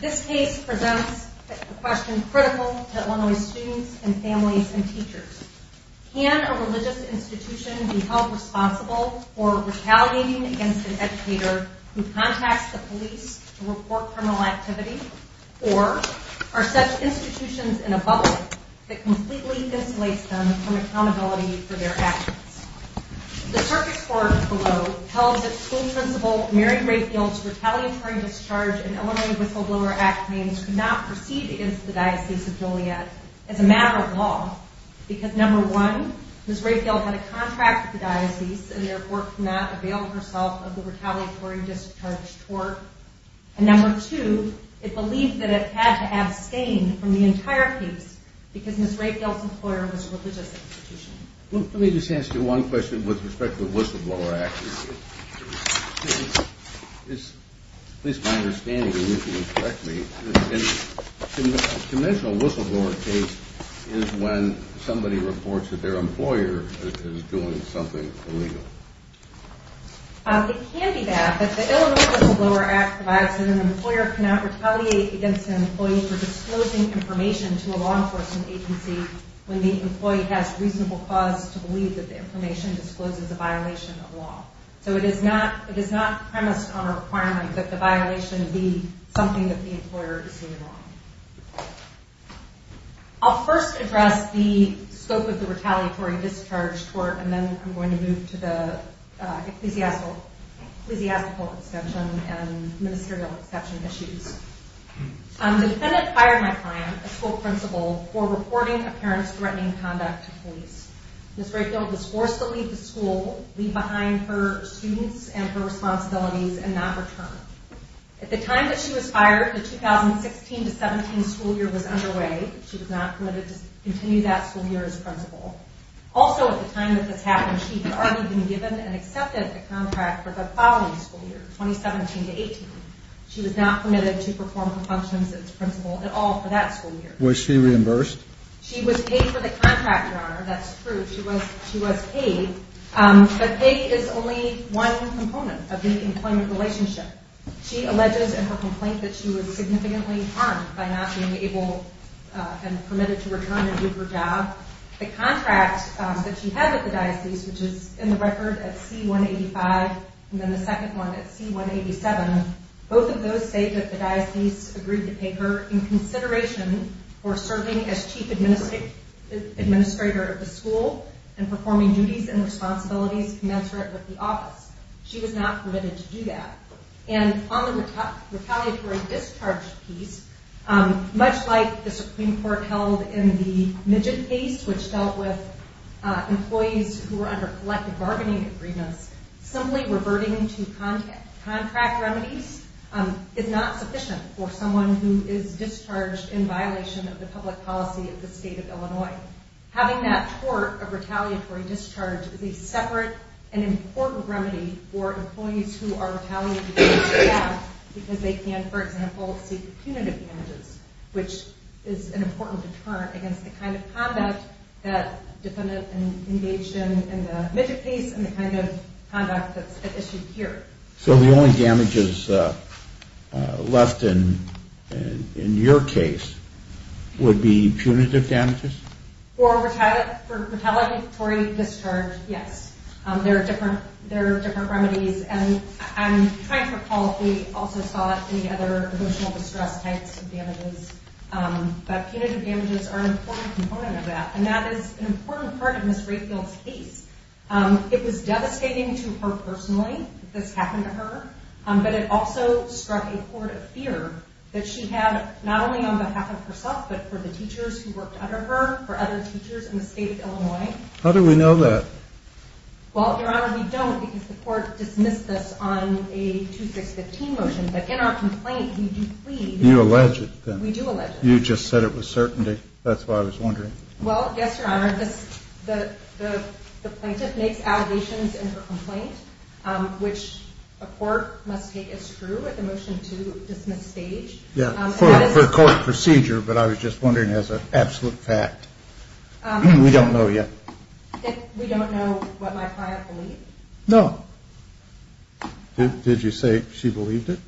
This case presents a question critical to Illinois students and families and teachers. Can a religious institution be held responsible for retaliating against an educator who contacts the police to report criminal activity? Or are such institutions in a bubble that completely insulates them from accountability for their actions? The Circus Court below tells that school principal Mary Rehfield's retaliatory discharge in Illinois Whistleblower Act claims could not proceed against the Diocese of Joliet as a matter of law because, number one, Ms. Rehfield had a contract with the Diocese and therefore could not avail herself of the retaliatory discharge tort. And number two, it believed that it had to abstain from the entire case because Ms. Rehfield's employer was a religious institution. Let me just ask you one question with respect to the Whistleblower Act. At least my understanding, and you can correct me, a conventional whistleblower case is when somebody reports that their employer is doing something illegal. It can be that, but the Illinois Whistleblower Act provides that an employer cannot retaliate against an employee for disclosing information to a law enforcement agency when the employee has reasonable cause to believe that the information discloses a violation of law. So it is not premised on a requirement that the violation be something that the employer is doing wrong. I'll first address the scope of the retaliatory discharge tort and then I'm going to move to the ecclesiastical exception and ministerial exception issues. A defendant fired my client, a school principal, for reporting a parent's threatening conduct to police. Ms. Rehfield was forced to leave the school, leave behind her students and her responsibilities and not return. At the time that she was fired, the 2016-17 school year was underway. She was not permitted to continue that school year as principal. Also at the time that this happened, she had already been given and accepted a contract for the following school year, 2017-18. She was not permitted to perform the functions as principal at all for that school year. Was she reimbursed? She was paid for the contract, Your Honor. That's true. She was paid. But pay is only one component of the employment relationship. She alleges in her complaint that she was significantly harmed by not being able and permitted to return and do her job. The contract that she had with the diocese, which is in the record at C-185 and then the Both of those say that the diocese agreed to pay her in consideration for serving as chief administrator of the school and performing duties and responsibilities commensurate with the office. She was not permitted to do that. And on the retaliatory discharge piece, much like the Supreme Court held in the Midget case, which dealt with employees who were under collective bargaining agreements, simply reverting to contract remedies is not sufficient for someone who is discharged in violation of the public policy of the state of Illinois. Having that tort of retaliatory discharge is a separate and important remedy for employees who are retaliating against the law because they can, for example, seek punitive damages, which is an important deterrent against the kind of conduct that defendant engaged in in the Midget case and the kind of conduct that's issued here. So the only damages left in your case would be punitive damages? For retaliatory discharge, yes. There are different remedies. And I'm trying to recall if we also saw any other emotional distress types of damages. But punitive damages are an important component of that. And that is an important part of Ms. Rayfield's case. It was devastating to her personally that this happened to her. But it also struck a chord of fear that she had not only on behalf of herself, but for the teachers who worked under her, for other teachers in the state of Illinois. How do we know that? Well, Your Honor, we don't because the court dismissed this on a 2615 motion. But in our complaint, we do plead. You allege it, then? We do allege it. You just said it was certainty. That's what I was wondering. Well, yes, Your Honor. The plaintiff makes allegations in her complaint, which a court must take as true at the motion to dismiss stage. Yeah, for the court procedure. But I was just wondering as an absolute fact. We don't know yet. We don't know what my client believed? No. Did you say she believed it?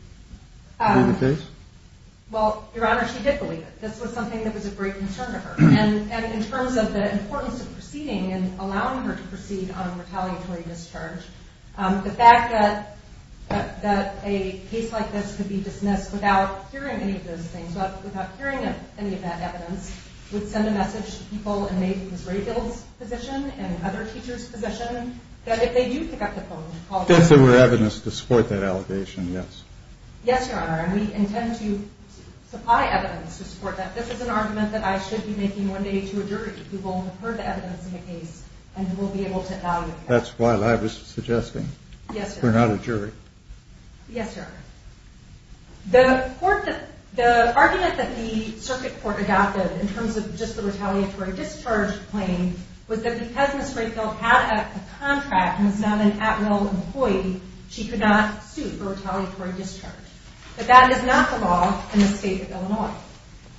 Well, Your Honor, she did believe it. This was something that was of great concern to her. And in terms of the importance of proceeding and allowing her to proceed on a retaliatory discharge, the fact that a case like this could be dismissed without hearing any of those things, without hearing any of that evidence, would send a message to people in maybe Ms. Rayfield's position and other teachers' position that if they do pick up the phone and call the police. If there were evidence to support that allegation, yes. Yes, Your Honor. And we intend to supply evidence to support that. This is an argument that I should be making one day to a jury who will have heard the evidence in the case and will be able to evaluate it. That's what I was suggesting. Yes, Your Honor. We're not a jury. Yes, Your Honor. The argument that the circuit court adopted in terms of just the retaliatory discharge claim was that because Ms. Rayfield had a contract and was not an at-will employee, she could not sue for retaliatory discharge. But that is not the law in the state of Illinois.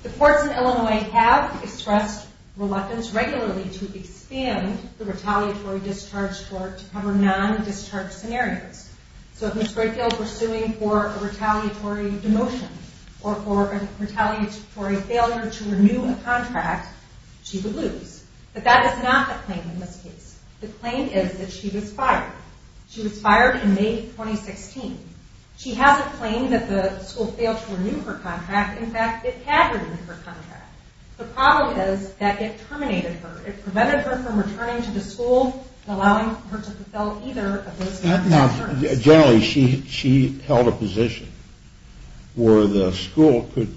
The courts in Illinois have expressed reluctance regularly to expand the retaliatory discharge court to cover non-discharge scenarios. So if Ms. Rayfield were suing for a retaliatory demotion or for a retaliatory failure to renew a contract, she would lose. But that is not the claim in this case. The claim is that she was fired. She was fired in May 2016. She has a claim that the school failed to renew her contract. In fact, it had renewed her contract. The problem is that it terminated her. It prevented her from returning to the school and allowing her to fulfill either of those terms. Generally, she held a position where the school could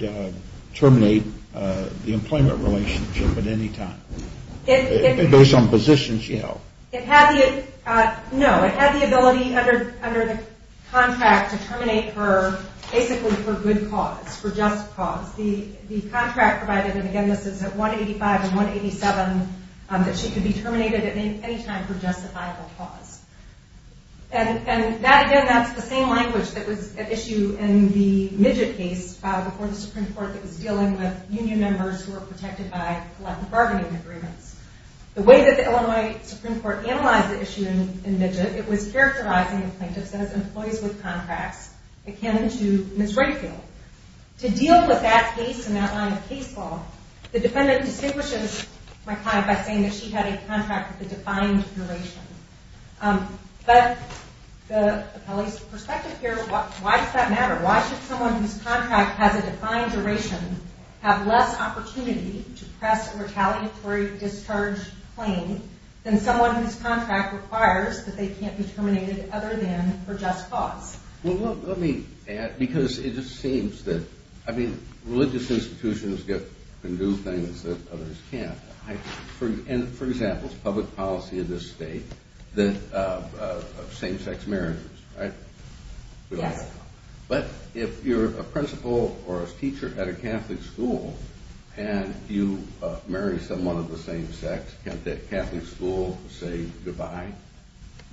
terminate the employment relationship at any time. Based on positions she held. No, it had the ability under the contract to terminate her basically for good cause, for just cause. The contract provided, and again this is at 185 and 187, that she could be terminated at any time for justifiable cause. And that again, that's the same language that was at issue in the Midget case before the Supreme Court that was dealing with union members who were protected by collective bargaining agreements. The way that the Illinois Supreme Court analyzed the issue in Midget, it was characterizing the plaintiffs as employees with contracts akin to Ms. Redfield. To deal with that case and that line of case law, the defendant distinguishes my client by saying that she had a contract with a defined duration. But the appellee's perspective here, why does that matter? Why should someone whose contract has a defined duration have less opportunity to press a retaliatory discharge claim than someone whose contract requires that they can't be terminated other than for just cause? Well, let me add, because it just seems that, I mean, religious institutions can do things that others can't. And for example, it's public policy in this state of same-sex marriages, right? Yes. But if you're a principal or a teacher at a Catholic school and you marry someone of the same sex, can't that Catholic school say goodbye?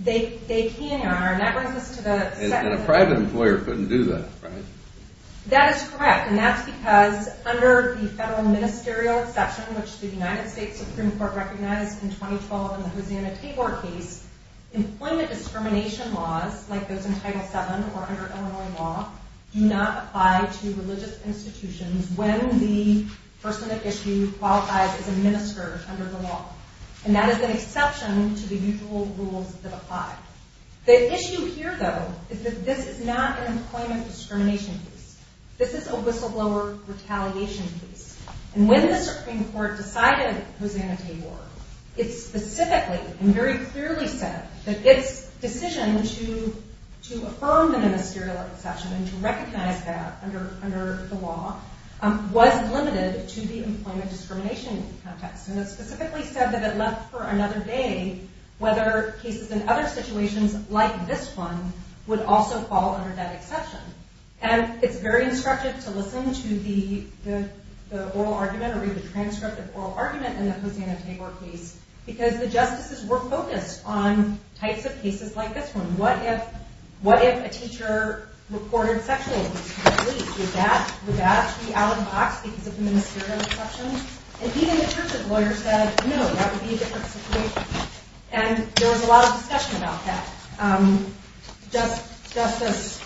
They can, Your Honor, and that brings us to the second… And a private employer couldn't do that, right? That is correct, and that's because under the federal ministerial exception, which the United States Supreme Court recognized in 2012 in the Housiana-Tabor case, employment discrimination laws, like those in Title VII or under Illinois law, do not apply to religious institutions when the person at issue qualifies as a minister under the law. And that is an exception to the usual rules that apply. The issue here, though, is that this is not an employment discrimination case. This is a whistleblower retaliation case. And when the Supreme Court decided Housiana-Tabor, it specifically and very clearly said that its decision to affirm the ministerial exception and to recognize that under the law was limited to the employment discrimination context. And it specifically said that it left for another day whether cases in other situations like this one would also fall under that exception. And it's very instructive to listen to the oral argument or read the transcript of oral argument in the Housiana-Tabor case because the justices were focused on types of cases like this one. What if a teacher reported sexual abuse to the police? Would that be out of the box because of the ministerial exception? And even the church's lawyer said, no, that would be a different situation. And there was a lot of discussion about that. Justice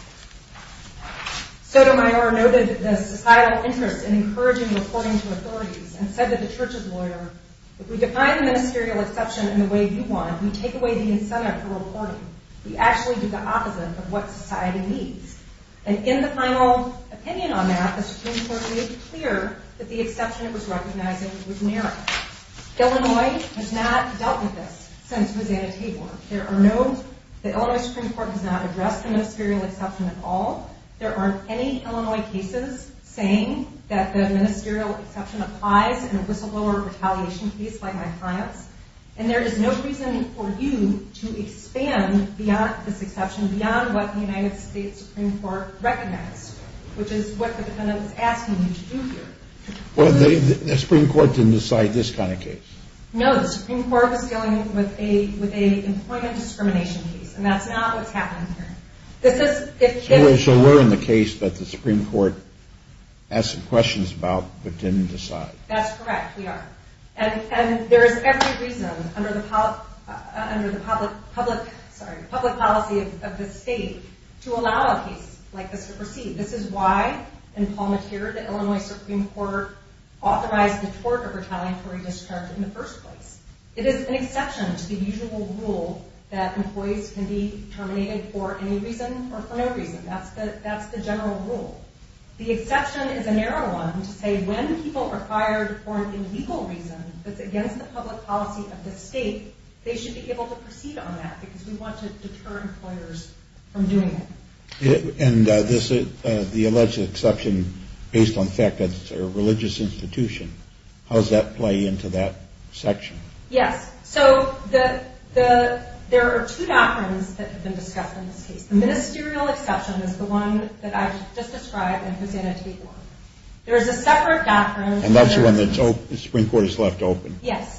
Sotomayor noted the societal interest in encouraging reporting to authorities and said to the church's lawyer, if we define the ministerial exception in the way you want, we take away the incentive for reporting. We actually do the opposite of what society needs. And in the final opinion on that, the Supreme Court made it clear that the exception it was recognizing was narrow. Illinois has not dealt with this since Housiana-Tabor. The Illinois Supreme Court has not addressed the ministerial exception at all. There aren't any Illinois cases saying that the ministerial exception applies in a whistleblower retaliation case like my client's. And there is no reason for you to expand beyond this exception, beyond what the United States Supreme Court recognized, which is what the defendant was asking you to do here. Well, the Supreme Court didn't decide this kind of case. No, the Supreme Court was dealing with an employment discrimination case, and that's not what's happening here. So we're in the case that the Supreme Court asked some questions about, but didn't decide. That's correct, we are. And there is every reason under the public policy of the state to allow a case like this to proceed. This is why, in Palmeteer, the Illinois Supreme Court authorized the tort of retaliatory discharge in the first place. It is an exception to the usual rule that employees can be terminated for any reason or for no reason. That's the general rule. The exception is a narrow one to say when people are fired for an illegal reason that's against the public policy of the state, they should be able to proceed on that because we want to deter employers from doing that. And the alleged exception, based on the fact that it's a religious institution, how does that play into that section? Yes, so there are two doctrines that have been discussed in this case. The ministerial exception is the one that I just described and presented to you before. There is a separate doctrine... And that's the one that the Supreme Court has left open. Yes.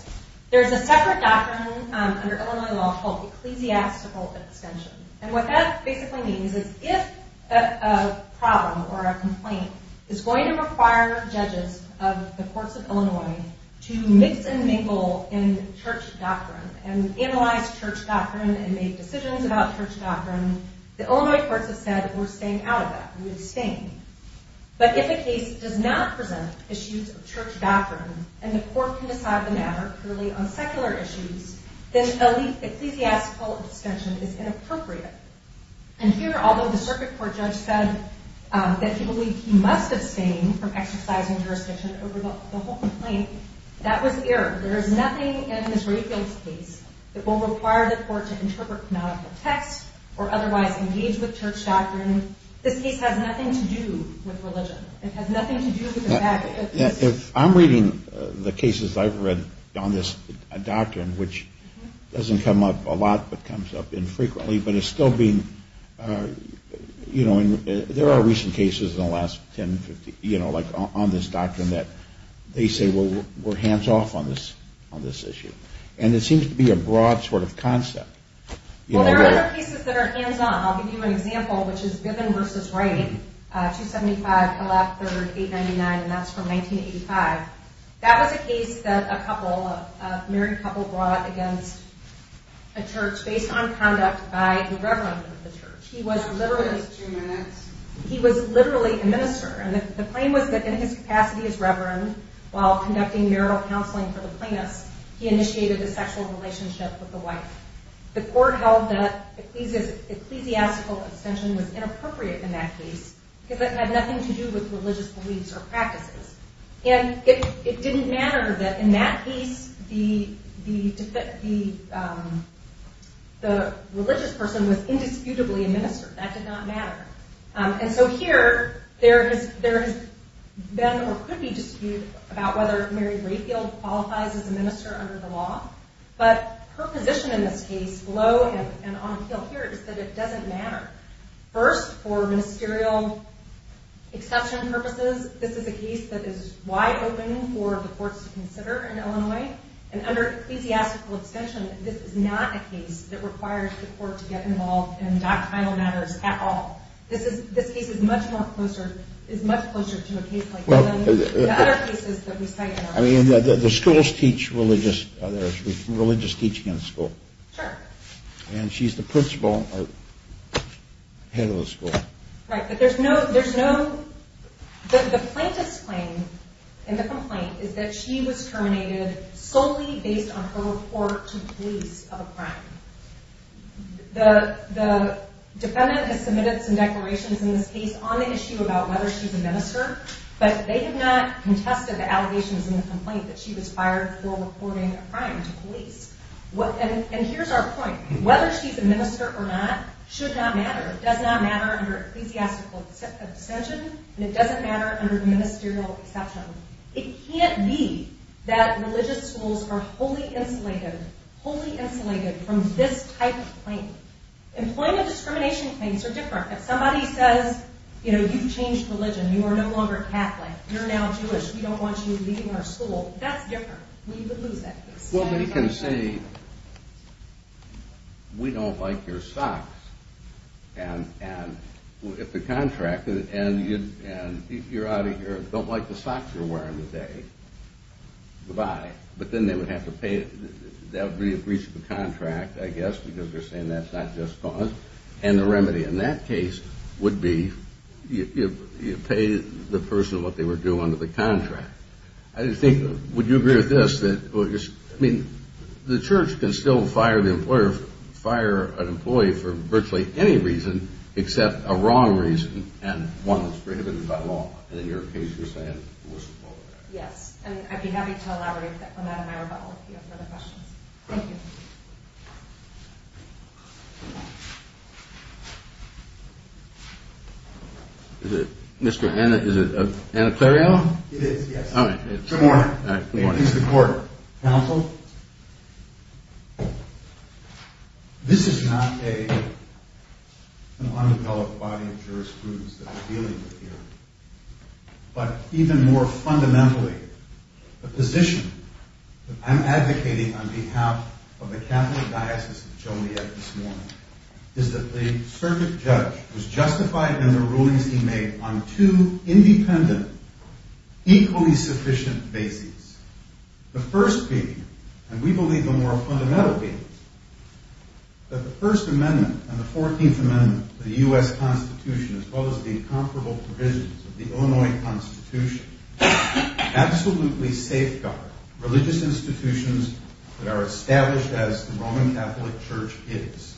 There is a separate doctrine under Illinois law called ecclesiastical abstention. And what that basically means is if a problem or a complaint is going to require judges of the courts of Illinois to mix and mingle in church doctrine and analyze church doctrine and make decisions about church doctrine, the Illinois courts have said we're staying out of that. We would abstain. But if a case does not present issues of church doctrine and the court can decide the matter purely on secular issues, then ecclesiastical abstention is inappropriate. And here, although the circuit court judge said that he believed he must abstain from exercising jurisdiction over the whole complaint, that was the error. There is nothing in Ms. Rayfield's case that will require the court to interpret canonical text or otherwise engage with church doctrine. This case has nothing to do with religion. It has nothing to do with the fact that... If I'm reading the cases I've read on this doctrine, which doesn't come up a lot but comes up infrequently, but it's still being, you know, there are recent cases in the last 10, 15, you know, like on this doctrine that they say we're hands-off on this issue. And it seems to be a broad sort of concept. Well, there are other cases that are hands-off. I'll give you an example, which is Biven v. Ray. 275 Pellatt III, 899, and that's from 1985. That was a case that a couple, a married couple brought against a church based on conduct by the reverend of the church. He was literally a minister, and the claim was that in his capacity as reverend while conducting marital counseling for the plaintiffs, he initiated a sexual relationship with the wife. The court held that ecclesiastical abstention was inappropriate in that case because it had nothing to do with religious beliefs or practices. And it didn't matter that in that case the religious person was indisputably a minister. That did not matter. And so here there has been or could be dispute about whether Mary Rayfield qualifies as a minister under the law, but her position in this case below and on the field here is that it doesn't matter. First, for ministerial exception purposes, this is a case that is wide open for the courts to consider in Illinois. And under ecclesiastical abstention, this is not a case that requires the court to get involved in doctrinal matters at all. This case is much closer to a case like that than the other cases that we cite. I mean, the schools teach religious teaching in school. Sure. And she's the principal or head of the school. Right, but there's no... The plaintiff's claim in the complaint is that she was terminated solely based on her report to police of a crime. The defendant has submitted some declarations in this case on the issue about whether she's a minister, but they have not contested the allegations in the complaint that she was fired for reporting a crime to police. And here's our point. Whether she's a minister or not should not matter. It does not matter under ecclesiastical abstention, and it doesn't matter under ministerial exception. It can't be that religious schools are wholly insulated, wholly insulated from this type of claim. Employment discrimination claims are different. If somebody says, you know, you've changed religion, you are no longer Catholic, you're now Jewish, we don't want you leaving our school, that's different. We would lose that case. Well, but you can say, we don't like your socks. And if the contractor, and you're out of here, don't like the socks you're wearing today, goodbye. But then they would have to pay it. That would be a breach of the contract, I guess, because they're saying that's not just cause. And the remedy in that case would be you pay the person what they were due under the contract. I just think, would you agree with this? I mean, the church can still fire the employer, fire an employee for virtually any reason except a wrong reason and one that's prohibited by law. And in your case, you're saying it wasn't appropriate. Yes, and I'd be happy to elaborate on that in my rebuttal if you have further questions. Thank you. Is it, Mr. Anna, is it Anna Clariel? It is, yes. Good morning. Good morning. Mr. Court, counsel, this is not an undeveloped body of jurisprudence that we're dealing with here. But even more fundamentally, the position that I'm advocating on behalf of the Catholic Diocese of Joliet this morning is that the circuit judge was justified in the rulings he made on two independent, equally sufficient bases. The first being, and we believe the more fundamental being, that the First Amendment and the Fourteenth Amendment of the U.S. Constitution, as well as the incomparable provisions of the Illinois Constitution, absolutely safeguard religious institutions that are established as the Roman Catholic Church is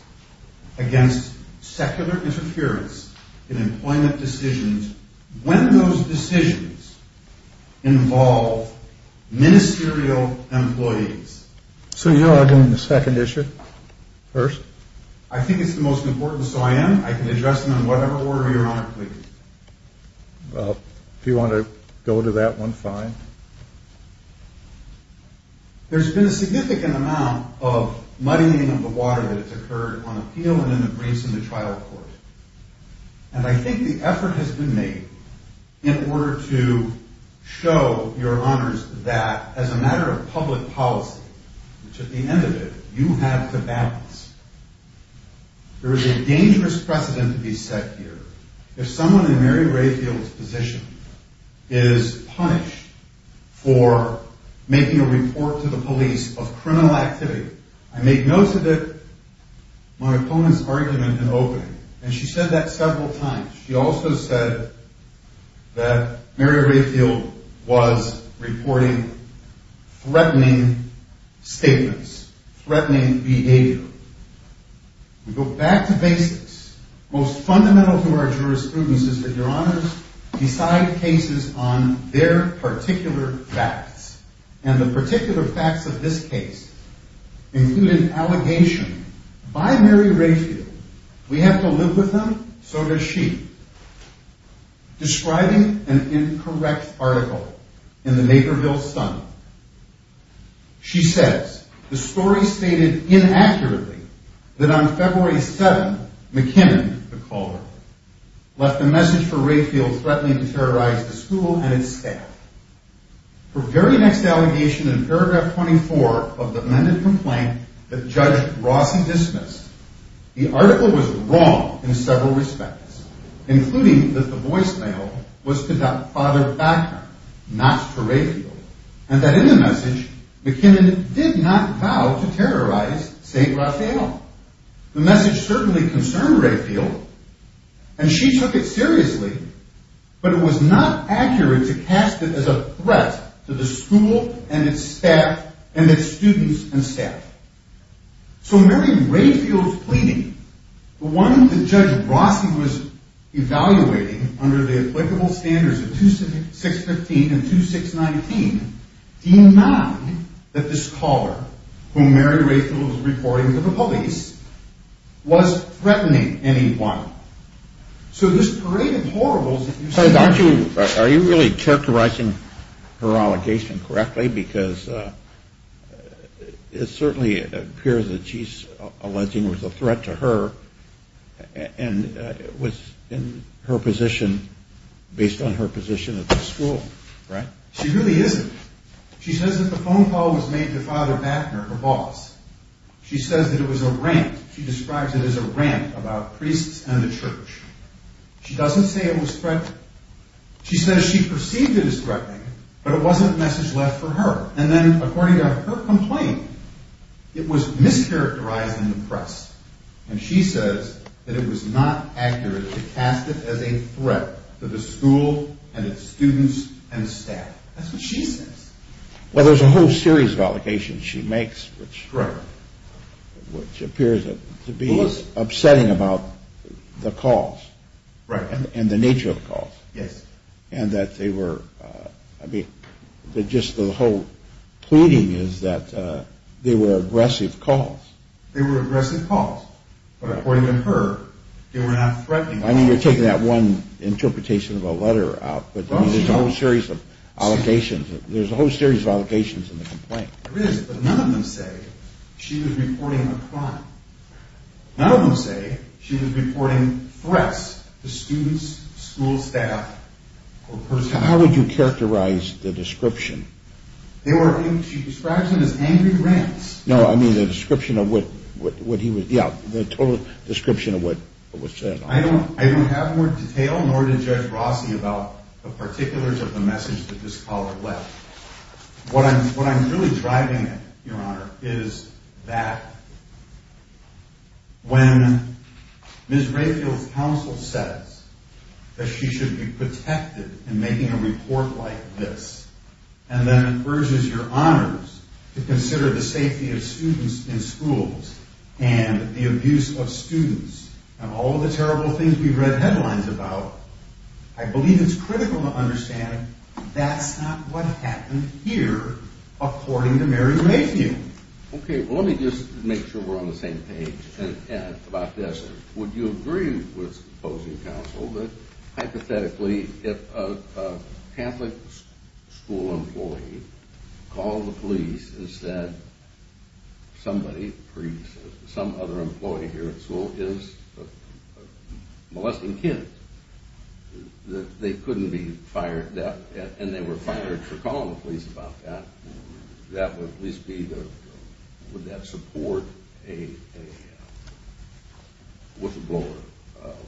against secular interference in employment decisions when those decisions involve ministerial employees. So you're arguing the second issue first? I think it's the most important, so I am. I can address them in whatever order you want, please. Well, if you want to go to that one, fine. There's been a significant amount of muddying of the water that has occurred on appeal and in the briefs in the trial court. And I think the effort has been made in order to show your honors that as a matter of public policy, which at the end of it, you have to balance. There is a dangerous precedent to be set here. If someone in Mary Rayfield's position is punished for making a report to the police of criminal activity, I make note of it, my opponent's argument in opening, and she said that several times. She also said that Mary Rayfield was reporting threatening statements, threatening behavior. We go back to basics. Most fundamental to our jurisprudence is that your honors decide cases on their particular facts. And the particular facts of this case include an allegation by Mary Rayfield, we have to live with them, so does she, describing an incorrect article in the Naperville Sun. She says, the story stated inaccurately that on February 7th, McKinnon, the caller, left a message for Rayfield threatening to terrorize the school and its staff. Her very next allegation in paragraph 24 of the amended complaint that Judge Rossi dismissed, the article was wrong in several respects, including that the voicemail was to Father Bacner, not to Rayfield, and that in the message, McKinnon did not vow to terrorize St. Raphael. The message certainly concerned Rayfield, and she took it seriously, but it was not accurate to cast it as a threat to the school and its staff and its students and staff. So Mary Rayfield's pleading, the one that Judge Rossi was evaluating under the applicable standards of 2615 and 2619, denied that this caller, whom Mary Rayfield was reporting to the police, was threatening anyone. So this parade of horribles that you see here... Are you really characterizing her allegation correctly? Because it certainly appears that she's alleging it was a threat to her and it was in her position, based on her position at the school, right? She really isn't. She says that the phone call was made to Father Bacner, her boss. She says that it was a rant. She describes it as a rant about priests and the church. She doesn't say it was threatening. She says she perceived it as threatening, but it wasn't a message left for her. And then, according to her complaint, it was mischaracterized in the press, and she says that it was not accurate to cast it as a threat to the school and its students and staff. That's what she says. Well, there's a whole series of allegations she makes, which appears to be upsetting about the calls and the nature of the calls. Yes. And that they were... I mean, just the whole pleading is that they were aggressive calls. They were aggressive calls. But according to her, they were not threatening. I mean, you're taking that one interpretation of a letter out, but there's a whole series of allegations. There's a whole series of allegations in the complaint. There is, but none of them say she was reporting a crime. None of them say she was reporting threats to students, school staff, or personnel. How would you characterize the description? She describes them as angry rants. No, I mean the description of what he was... Yeah, the total description of what was said. I don't have more detail, nor did Judge Rossi, about the particulars of the message that this caller left. What I'm really driving at, Your Honor, is that when Ms. Rayfield's counsel says that she should be protected in making a report like this, and then encourages Your Honors to consider the safety of students in schools and the abuse of students, and all of the terrible things we've read headlines about, I believe it's critical to understand that's not what happened here, according to Mary Rayfield. Okay, well let me just make sure we're on the same page about this. Would you agree with opposing counsel that, hypothetically, if a Catholic school employee called the police and said somebody, some other employee here at school is molesting kids, that they couldn't be fired, and they were fired for calling the police about that? Would that support a whistleblower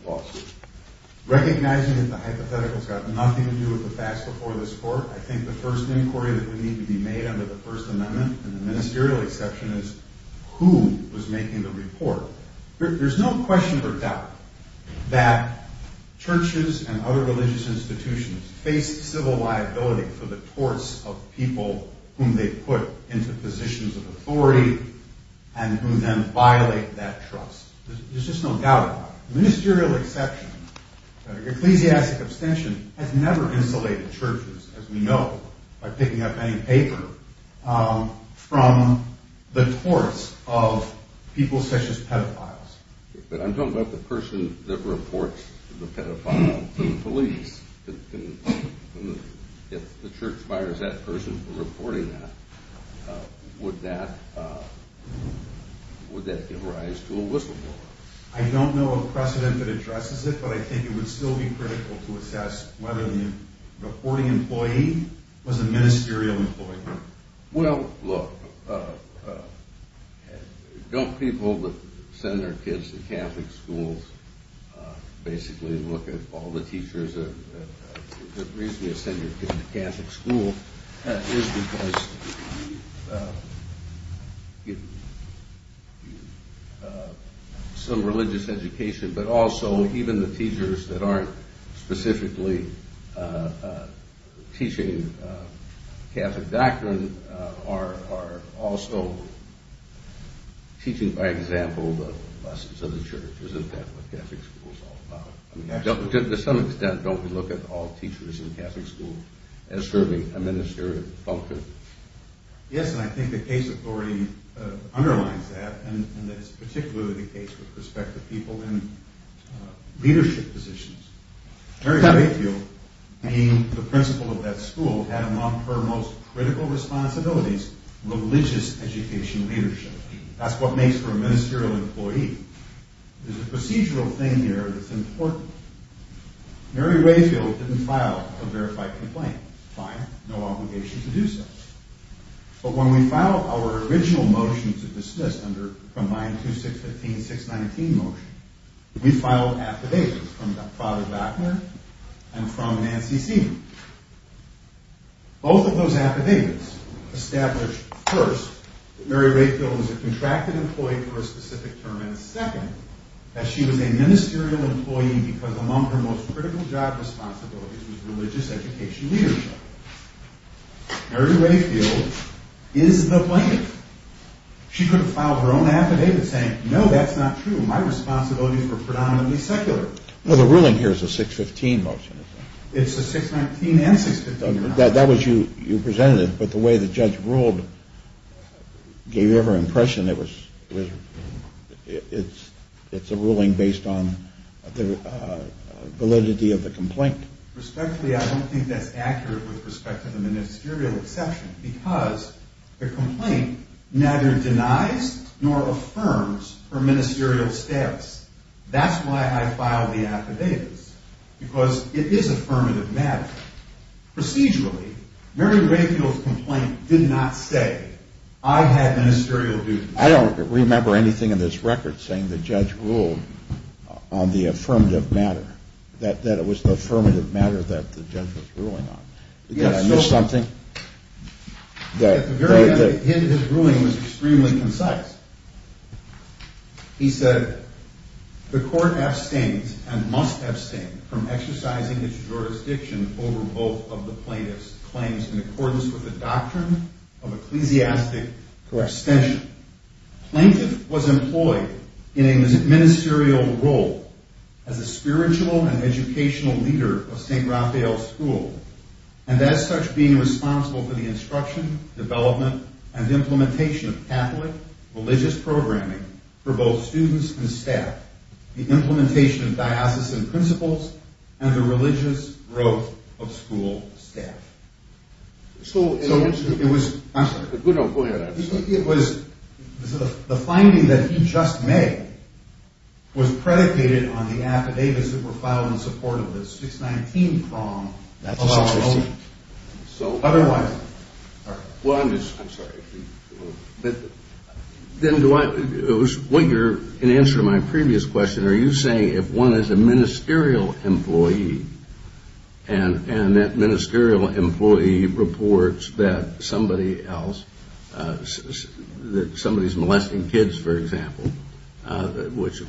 lawsuit? Recognizing that the hypothetical's got nothing to do with the facts before this court, I think the first inquiry that would need to be made under the First Amendment, and the ministerial exception is, who was making the report? There's no question or doubt that churches and other religious institutions face civil liability for the torts of people whom they put into positions of authority and who then violate that trust. There's just no doubt about it. The ministerial exception, ecclesiastic abstention, has never insulated churches, as we know, by picking up any paper from the torts of people such as pedophiles. But I'm talking about the person that reports the pedophile to the police. If the church fires that person for reporting that, would that give rise to a whistleblower? I don't know of precedent that addresses it, but I think it would still be critical to assess whether the reporting employee was a ministerial employee. Well, look, don't people send their kids to Catholic schools, basically look at all the teachers? The reason you send your kids to Catholic school is because you give them some religious education, but also even the teachers that aren't specifically teaching Catholic doctrine are also teaching, by example, the lessons of the church. Isn't that what Catholic school is all about? To some extent, don't we look at all teachers in Catholic school as serving a ministerial function? Yes, and I think the case authority underlines that, and that's particularly the case with respect to people in leadership positions. Mary Batefield, being the principal of that school, had, among her most critical responsibilities, religious education leadership. That's what makes her a ministerial employee. There's a procedural thing here that's important. Mary Batefield didn't file a verified complaint. Fine, no obligation to do so. But when we filed our original motion to dismiss under Combined 2615-619 motion, we filed affidavits from Father Bachner and from Nancy Seaman. Both of those affidavits established first that Mary Batefield was a contracted employee for a specific term, and second, that she was a ministerial employee because among her most critical job responsibilities was religious education leadership. Mary Batefield is the plaintiff. She could have filed her own affidavit saying, no, that's not true, my responsibilities were predominantly secular. Well, the ruling here is a 615 motion, isn't it? It's a 619 and 615 motion. You presented it, but the way the judge ruled gave the impression that it's a ruling based on the validity of the complaint. Respectfully, I don't think that's accurate with respect to the ministerial exception because the complaint neither denies nor affirms her ministerial status. That's why I filed the affidavits, because it is affirmative matter. Procedurally, Mary Batefield's complaint did not say, I had ministerial duties. I don't remember anything in this record saying the judge ruled on the affirmative matter, that it was the affirmative matter that the judge was ruling on. Did I miss something? At the very end, his ruling was extremely concise. He said, The court abstains and must abstain from exercising its jurisdiction over both of the plaintiff's claims in accordance with the doctrine of ecclesiastic correspondence. Plaintiff was employed in a ministerial role as a spiritual and educational leader of St. Raphael School and as such being responsible for the instruction, development, and implementation of Catholic religious programming for both students and staff, the implementation of diocesan principles, and the religious growth of school staff. The finding that he just made was predicated on the affidavits that were filed in support of the 619 prong. Otherwise, I'm sorry. In answer to my previous question, are you saying if one is a ministerial employee and that ministerial employee reports that somebody else, that somebody is molesting kids, for example, which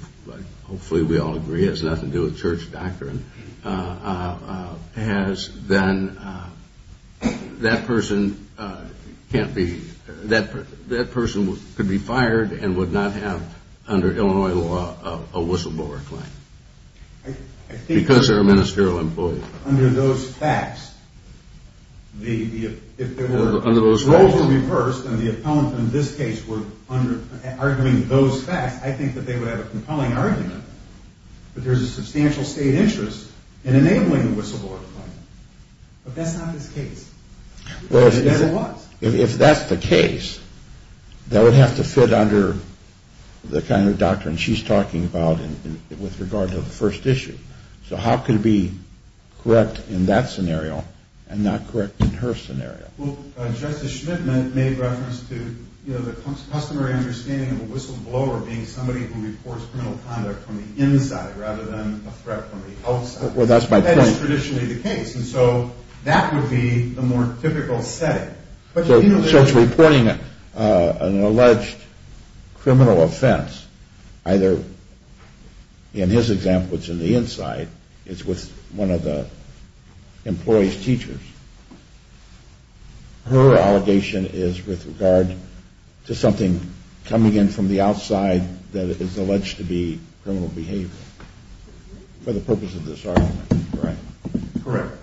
hopefully we all agree has nothing to do with church doctrine, has then, that person can't be, that person could be fired and would not have, under Illinois law, a whistleblower claim. Because they're a ministerial employee. I think under those facts, if there were roles reversed, and the appellant in this case were arguing those facts, I think that they would have a compelling argument that there's a substantial state interest in enabling the whistleblower claim. But that's not this case. It never was. If that's the case, that would have to fit under the kind of doctrine she's talking about with regard to the first issue. So how can it be correct in that scenario and not correct in her scenario? Well, Justice Schmittman made reference to the customary understanding of a whistleblower being somebody who reports criminal conduct from the inside rather than a threat from the outside. Well, that's my point. That is traditionally the case. And so that would be the more typical setting. So it's reporting an alleged criminal offense, either, in his example, it's in the inside, it's with one of the employee's teachers. Her allegation is with regard to something coming in from the outside that is alleged to be criminal behavior for the purpose of this argument, correct? Correct.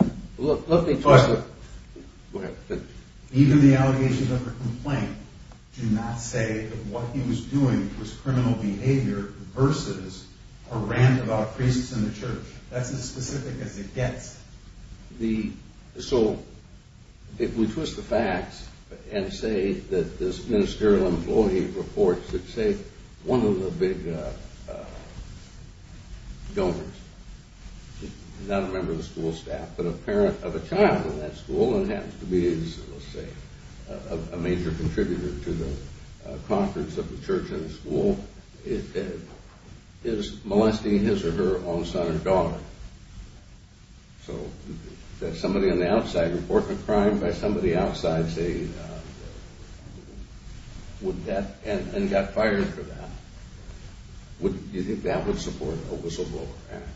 Even the allegations of her complaint do not say that what he was doing was criminal behavior versus a rant about priests in the church. That's as specific as it gets. So if we twist the facts and say that this ministerial employee reports that, say, one of the big donors, not a member of the school staff, but a parent of a child in that school and happens to be, let's say, a major contributor to the conference of the church and the school, is molesting his or her own son or daughter, so that somebody on the outside reports a crime by somebody outside, say, and got fired for that, do you think that would support a whistleblower act?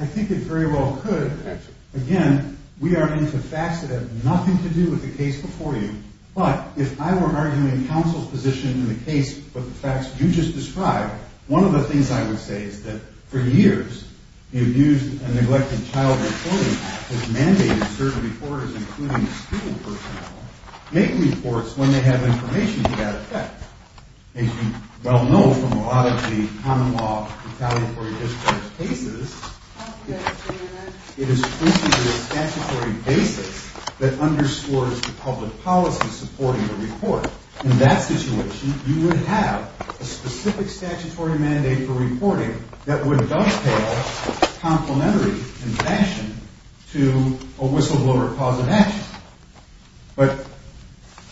I think it very well could. Again, we are into facts that have nothing to do with the case before you. But if I were arguing counsel's position in the case with the facts you just described, one of the things I would say is that, for years, the Abused and Neglected Child Reporting Act has mandated certain reporters, including school personnel, make reports when they have information to that effect. As you well know from a lot of the common law retaliatory discharge cases, it is printed with a statutory basis that underscores the public policy supporting the report. In that situation, you would have a specific statutory mandate for reporting that would dovetail, complementary in fashion, to a whistleblower cause of action. But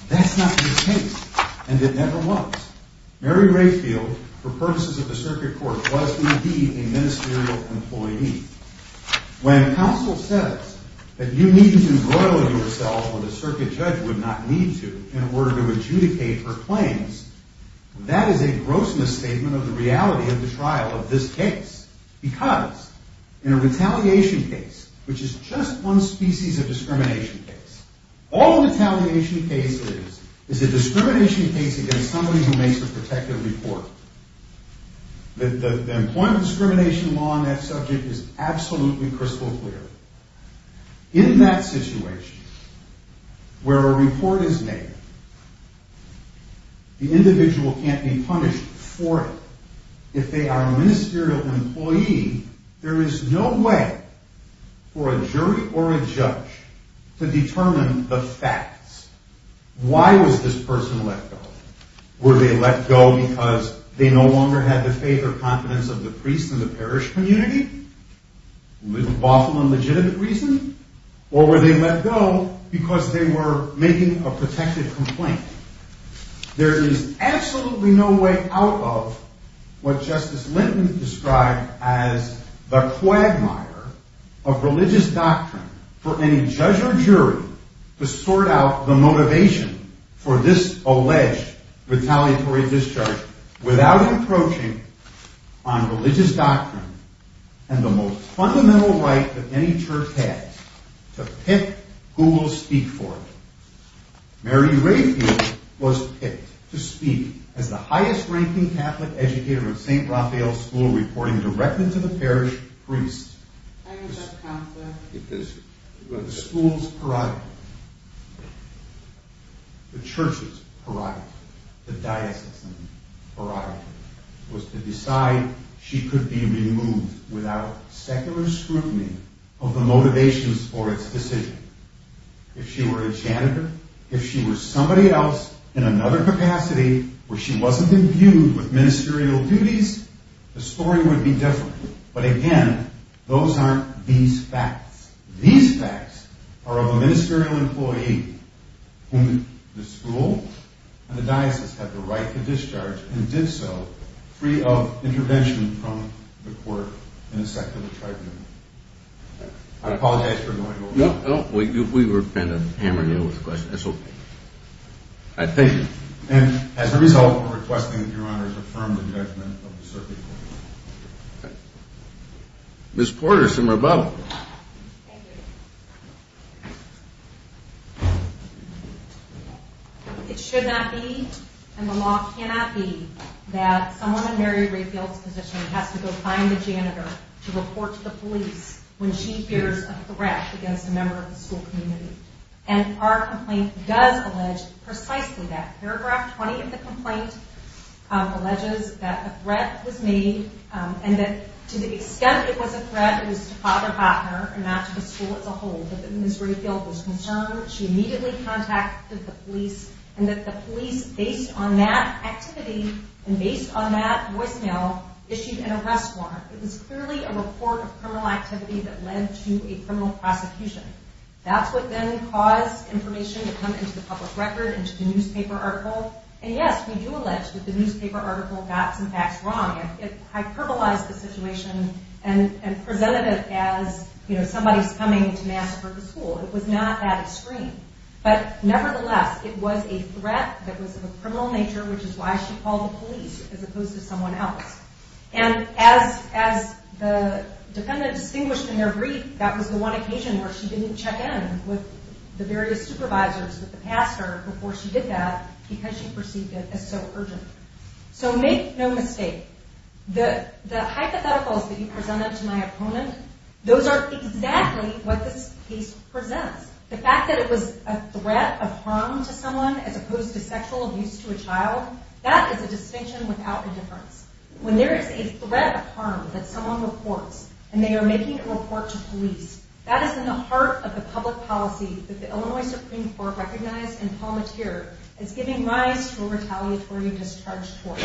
that's not the case, and it never was. Mary Rayfield, for purposes of the circuit court, was indeed a ministerial employee. When counsel says that you need to embroil yourself, when the circuit judge would not need to, in order to adjudicate her claims, that is a gross misstatement of the reality of the trial of this case. Because, in a retaliation case, which is just one species of discrimination case, all retaliation cases is a discrimination case against somebody who makes a protective report. The employment discrimination law on that subject is absolutely crystal clear. In that situation, where a report is made, the individual can't be punished for it. If they are a ministerial employee, there is no way for a jury or a judge to determine the facts. Why was this person let go? Were they let go because they no longer had the faith or confidence of the priests in the parish community, with lawful and legitimate reason? Or were they let go because they were making a protective complaint? There is absolutely no way out of what Justice Linton described as the quagmire of religious doctrine for any judge or jury to sort out the motivation for this alleged retaliatory discharge without approaching on religious doctrine and the most fundamental right that any church has, to pick who will speak for it. Mary Rayfield was picked to speak as the highest-ranking Catholic educator in St. Raphael's School, reporting directly to the parish priest. The school's prerogative, the church's prerogative, the diocesan prerogative, was to decide she could be removed without secular scrutiny of the motivations for its decision. If she were a janitor, if she were somebody else in another capacity where she wasn't imbued with ministerial duties, the story would be different. But again, those aren't these facts. These facts are of a ministerial employee whom the school and the diocese had the right to discharge and did so free of intervention from the court in a secular tribunal. I apologize for going over. No, we were kind of hammering you with questions. That's okay. I thank you. And as a result, I'm requesting that Your Honor affirm the judgment of the circuit court. Ms. Porter, St. Raphael. Thank you. It should not be and the law cannot be that someone in Mary Rayfield's position has to go find the janitor to report to the police when she fears a threat against a member of the school community. And our complaint does allege precisely that. Paragraph 20 of the complaint alleges that a threat was made and that to the extent it was a threat, it was to Father Hockner and not to the school as a whole, that Ms. Rayfield was concerned. She immediately contacted the police and that the police, based on that activity and based on that voicemail, issued an arrest warrant. It was clearly a report of criminal activity that led to a criminal prosecution. That's what then caused information to come into the public record, into the newspaper article. And yes, we do allege that the newspaper article got some facts wrong. It hyperbolized the situation and presented it as somebody's coming to massacre the school. It was not that extreme. But nevertheless, it was a threat that was of a criminal nature, which is why she called the police as opposed to someone else. And as the defendant distinguished in their brief, that was the one occasion where she didn't check in with the various supervisors, with the pastor, before she did that because she perceived it as so urgent. So make no mistake. The hypotheticals that you presented to my opponent, those are exactly what this case presents. The fact that it was a threat of harm to someone as opposed to sexual abuse to a child, that is a distinction without indifference. When there is a threat of harm that someone reports and they are making a report to police, that is in the heart of the public policy that the Illinois Supreme Court recognized in Palmatier as giving rise to a retaliatory discharge tort.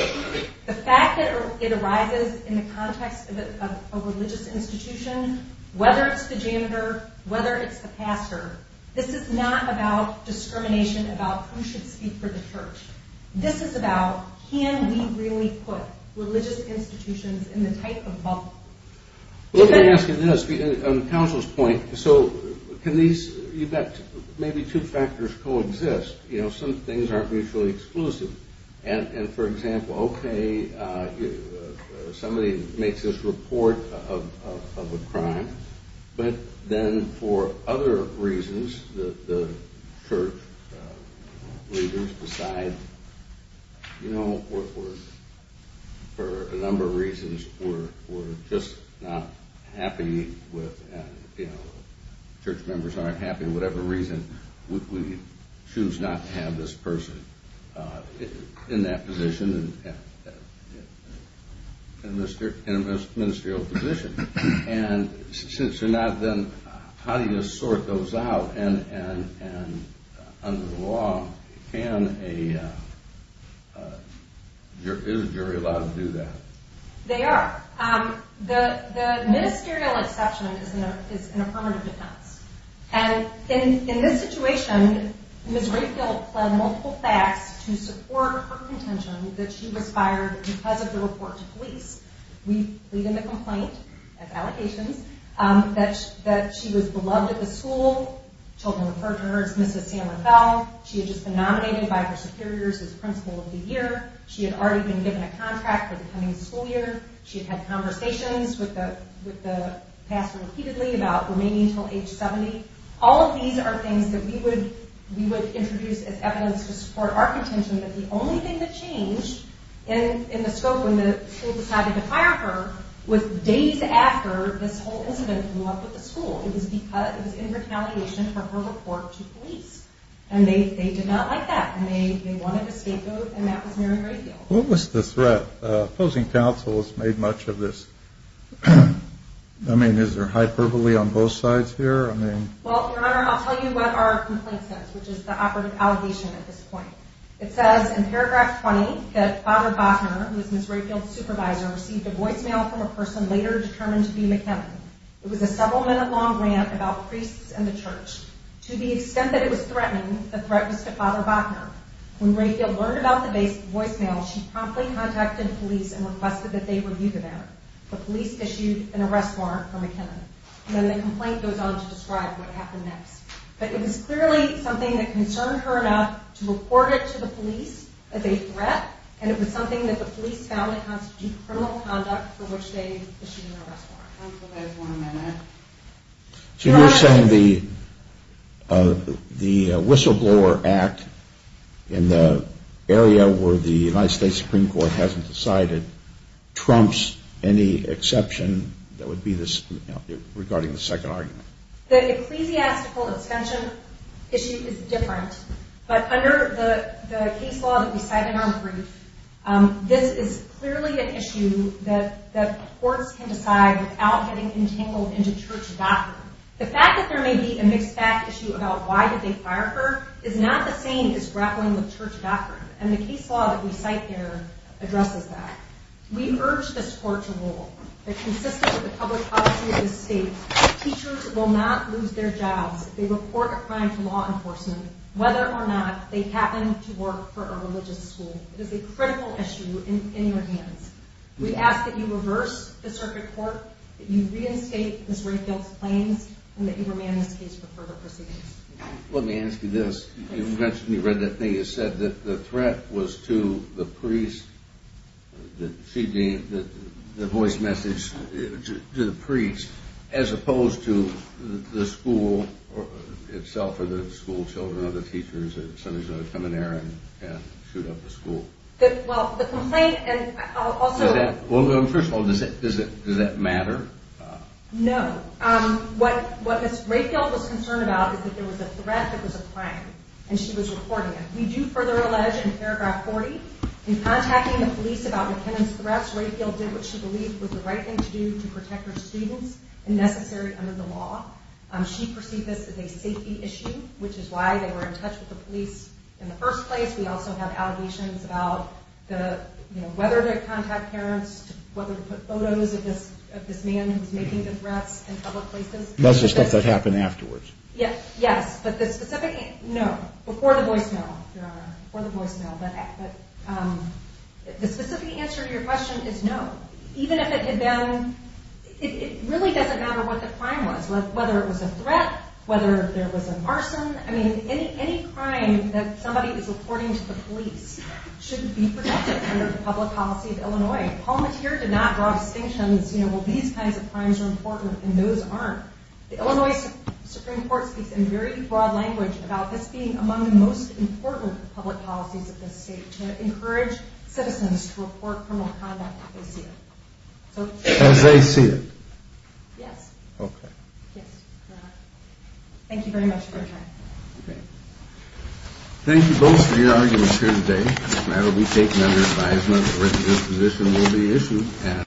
The fact that it arises in the context of a religious institution, whether it's the janitor, whether it's the pastor, this is not about discrimination about who should speak for the church. This is about can we really put religious institutions in the type of bubble? On counsel's point, you've got maybe two factors co-exist. Some things aren't mutually exclusive. For example, somebody makes this report of a crime, but then for other reasons, the church leaders decide for a number of reasons, we're just not happy with and church members aren't happy for whatever reason, we choose not to have this person in that position in a ministerial position. Since they're not, how do you sort those out? Under the law, is a jury allowed to do that? They are. The ministerial exception is in a permanent defense. In this situation, Ms. Rayfield pled multiple facts to support her contention that she was fired because of the report to police. We plead in the complaint that she was beloved at the school. Children referred to her as Mrs. San Rafael. She had just been nominated by her superiors as principal of the year. She had already been given a contract for the coming school year. She had had conversations with the pastor repeatedly about remaining until age 70. All of these are things that we would introduce as evidence to support our contention that the only thing that changed in the scope when the school decided to fire her was days after this whole incident came up with the school. It was in retaliation for her report to police. They did not like that. They wanted a state vote and that was Mary Rayfield. What was the threat? Opposing counsel has made much of this. Is there hyperbole on both sides here? I'll tell you what our complaint says which is the operative allegation at this point. It says in paragraph 20 that Father Bochner, who is Ms. Rayfield's supervisor, received a voicemail from a person later determined to be McKinnon. It was a several minute long rant about priests and the church. To the extent that it was threatening, the threat was to Father Bochner. When Rayfield learned about the voicemail, she promptly contacted police and requested that they review the matter. The police issued an arrest warrant for McKinnon. Then the complaint goes on to describe what happened next. But it was clearly something that concerned her enough to report it to the police as a threat and it was something that the police found it constitutes criminal conduct for which they issued an arrest warrant. So you're saying the Whistleblower Act in the area where the United States Supreme Court hasn't decided trumps any exception regarding the second argument? The ecclesiastical suspension issue is different. But under the case law that we cite in our brief, this is clearly an issue that courts can decide without getting entangled into church doctrine. The fact that there may be a mixed fact issue about why did they fire her is not the same as grappling with church doctrine. And the case law that we cite there addresses that. We urge this court to rule that consistent with the public policy of this state, teachers will not lose their jobs if they report a crime to law enforcement whether or not they happen to work for a religious school. It is a critical issue in your hands. We ask that you reverse the circuit court, that you reinstate Ms. Rayfield's claims and that you remand this case for further proceedings. Let me ask you this. You mentioned, you read that thing, you said that the threat was to the priest, the voice message to the priest as opposed to the school itself or the school children or the teachers that sometimes come in there and shoot up the school. Well, the complaint and also... Well, first of all, does that matter? No. What Ms. Rayfield was concerned about is that there was a threat that was applying and she was reporting it. We do further allege in paragraph 40 in contacting the police about McKinnon's threats, Rayfield did what she believed was the right thing to do to protect her students and necessary under the law. She perceived this as a safety issue, which is why they were in touch with the police in the first place. We also have allegations about whether to contact parents, whether to put photos of this man who's making the threats in public places. That's the stuff that happened afterwards. Yes, but the specific... No, before the voicemail, Your Honor. Before the voicemail, but... The specific answer to your question is no. Even if it had been... It really doesn't matter what the crime was, whether it was a threat, whether there was a arson. I mean, any crime that somebody is reporting to the police shouldn't be protected under the public policy of Illinois. Paul Mateer did not draw distinctions, you know, well, these kinds of crimes are important and those aren't. The Illinois Supreme Court speaks in very broad language about this being among the most important public policies of this state to encourage citizens to report criminal conduct if they see it. As they see it? Yes. Okay. Yes, Your Honor. Thank you very much for your time. Okay. Thank you both for your arguments here today. The matter will be taken under advisement. The rest of this position will be issued at...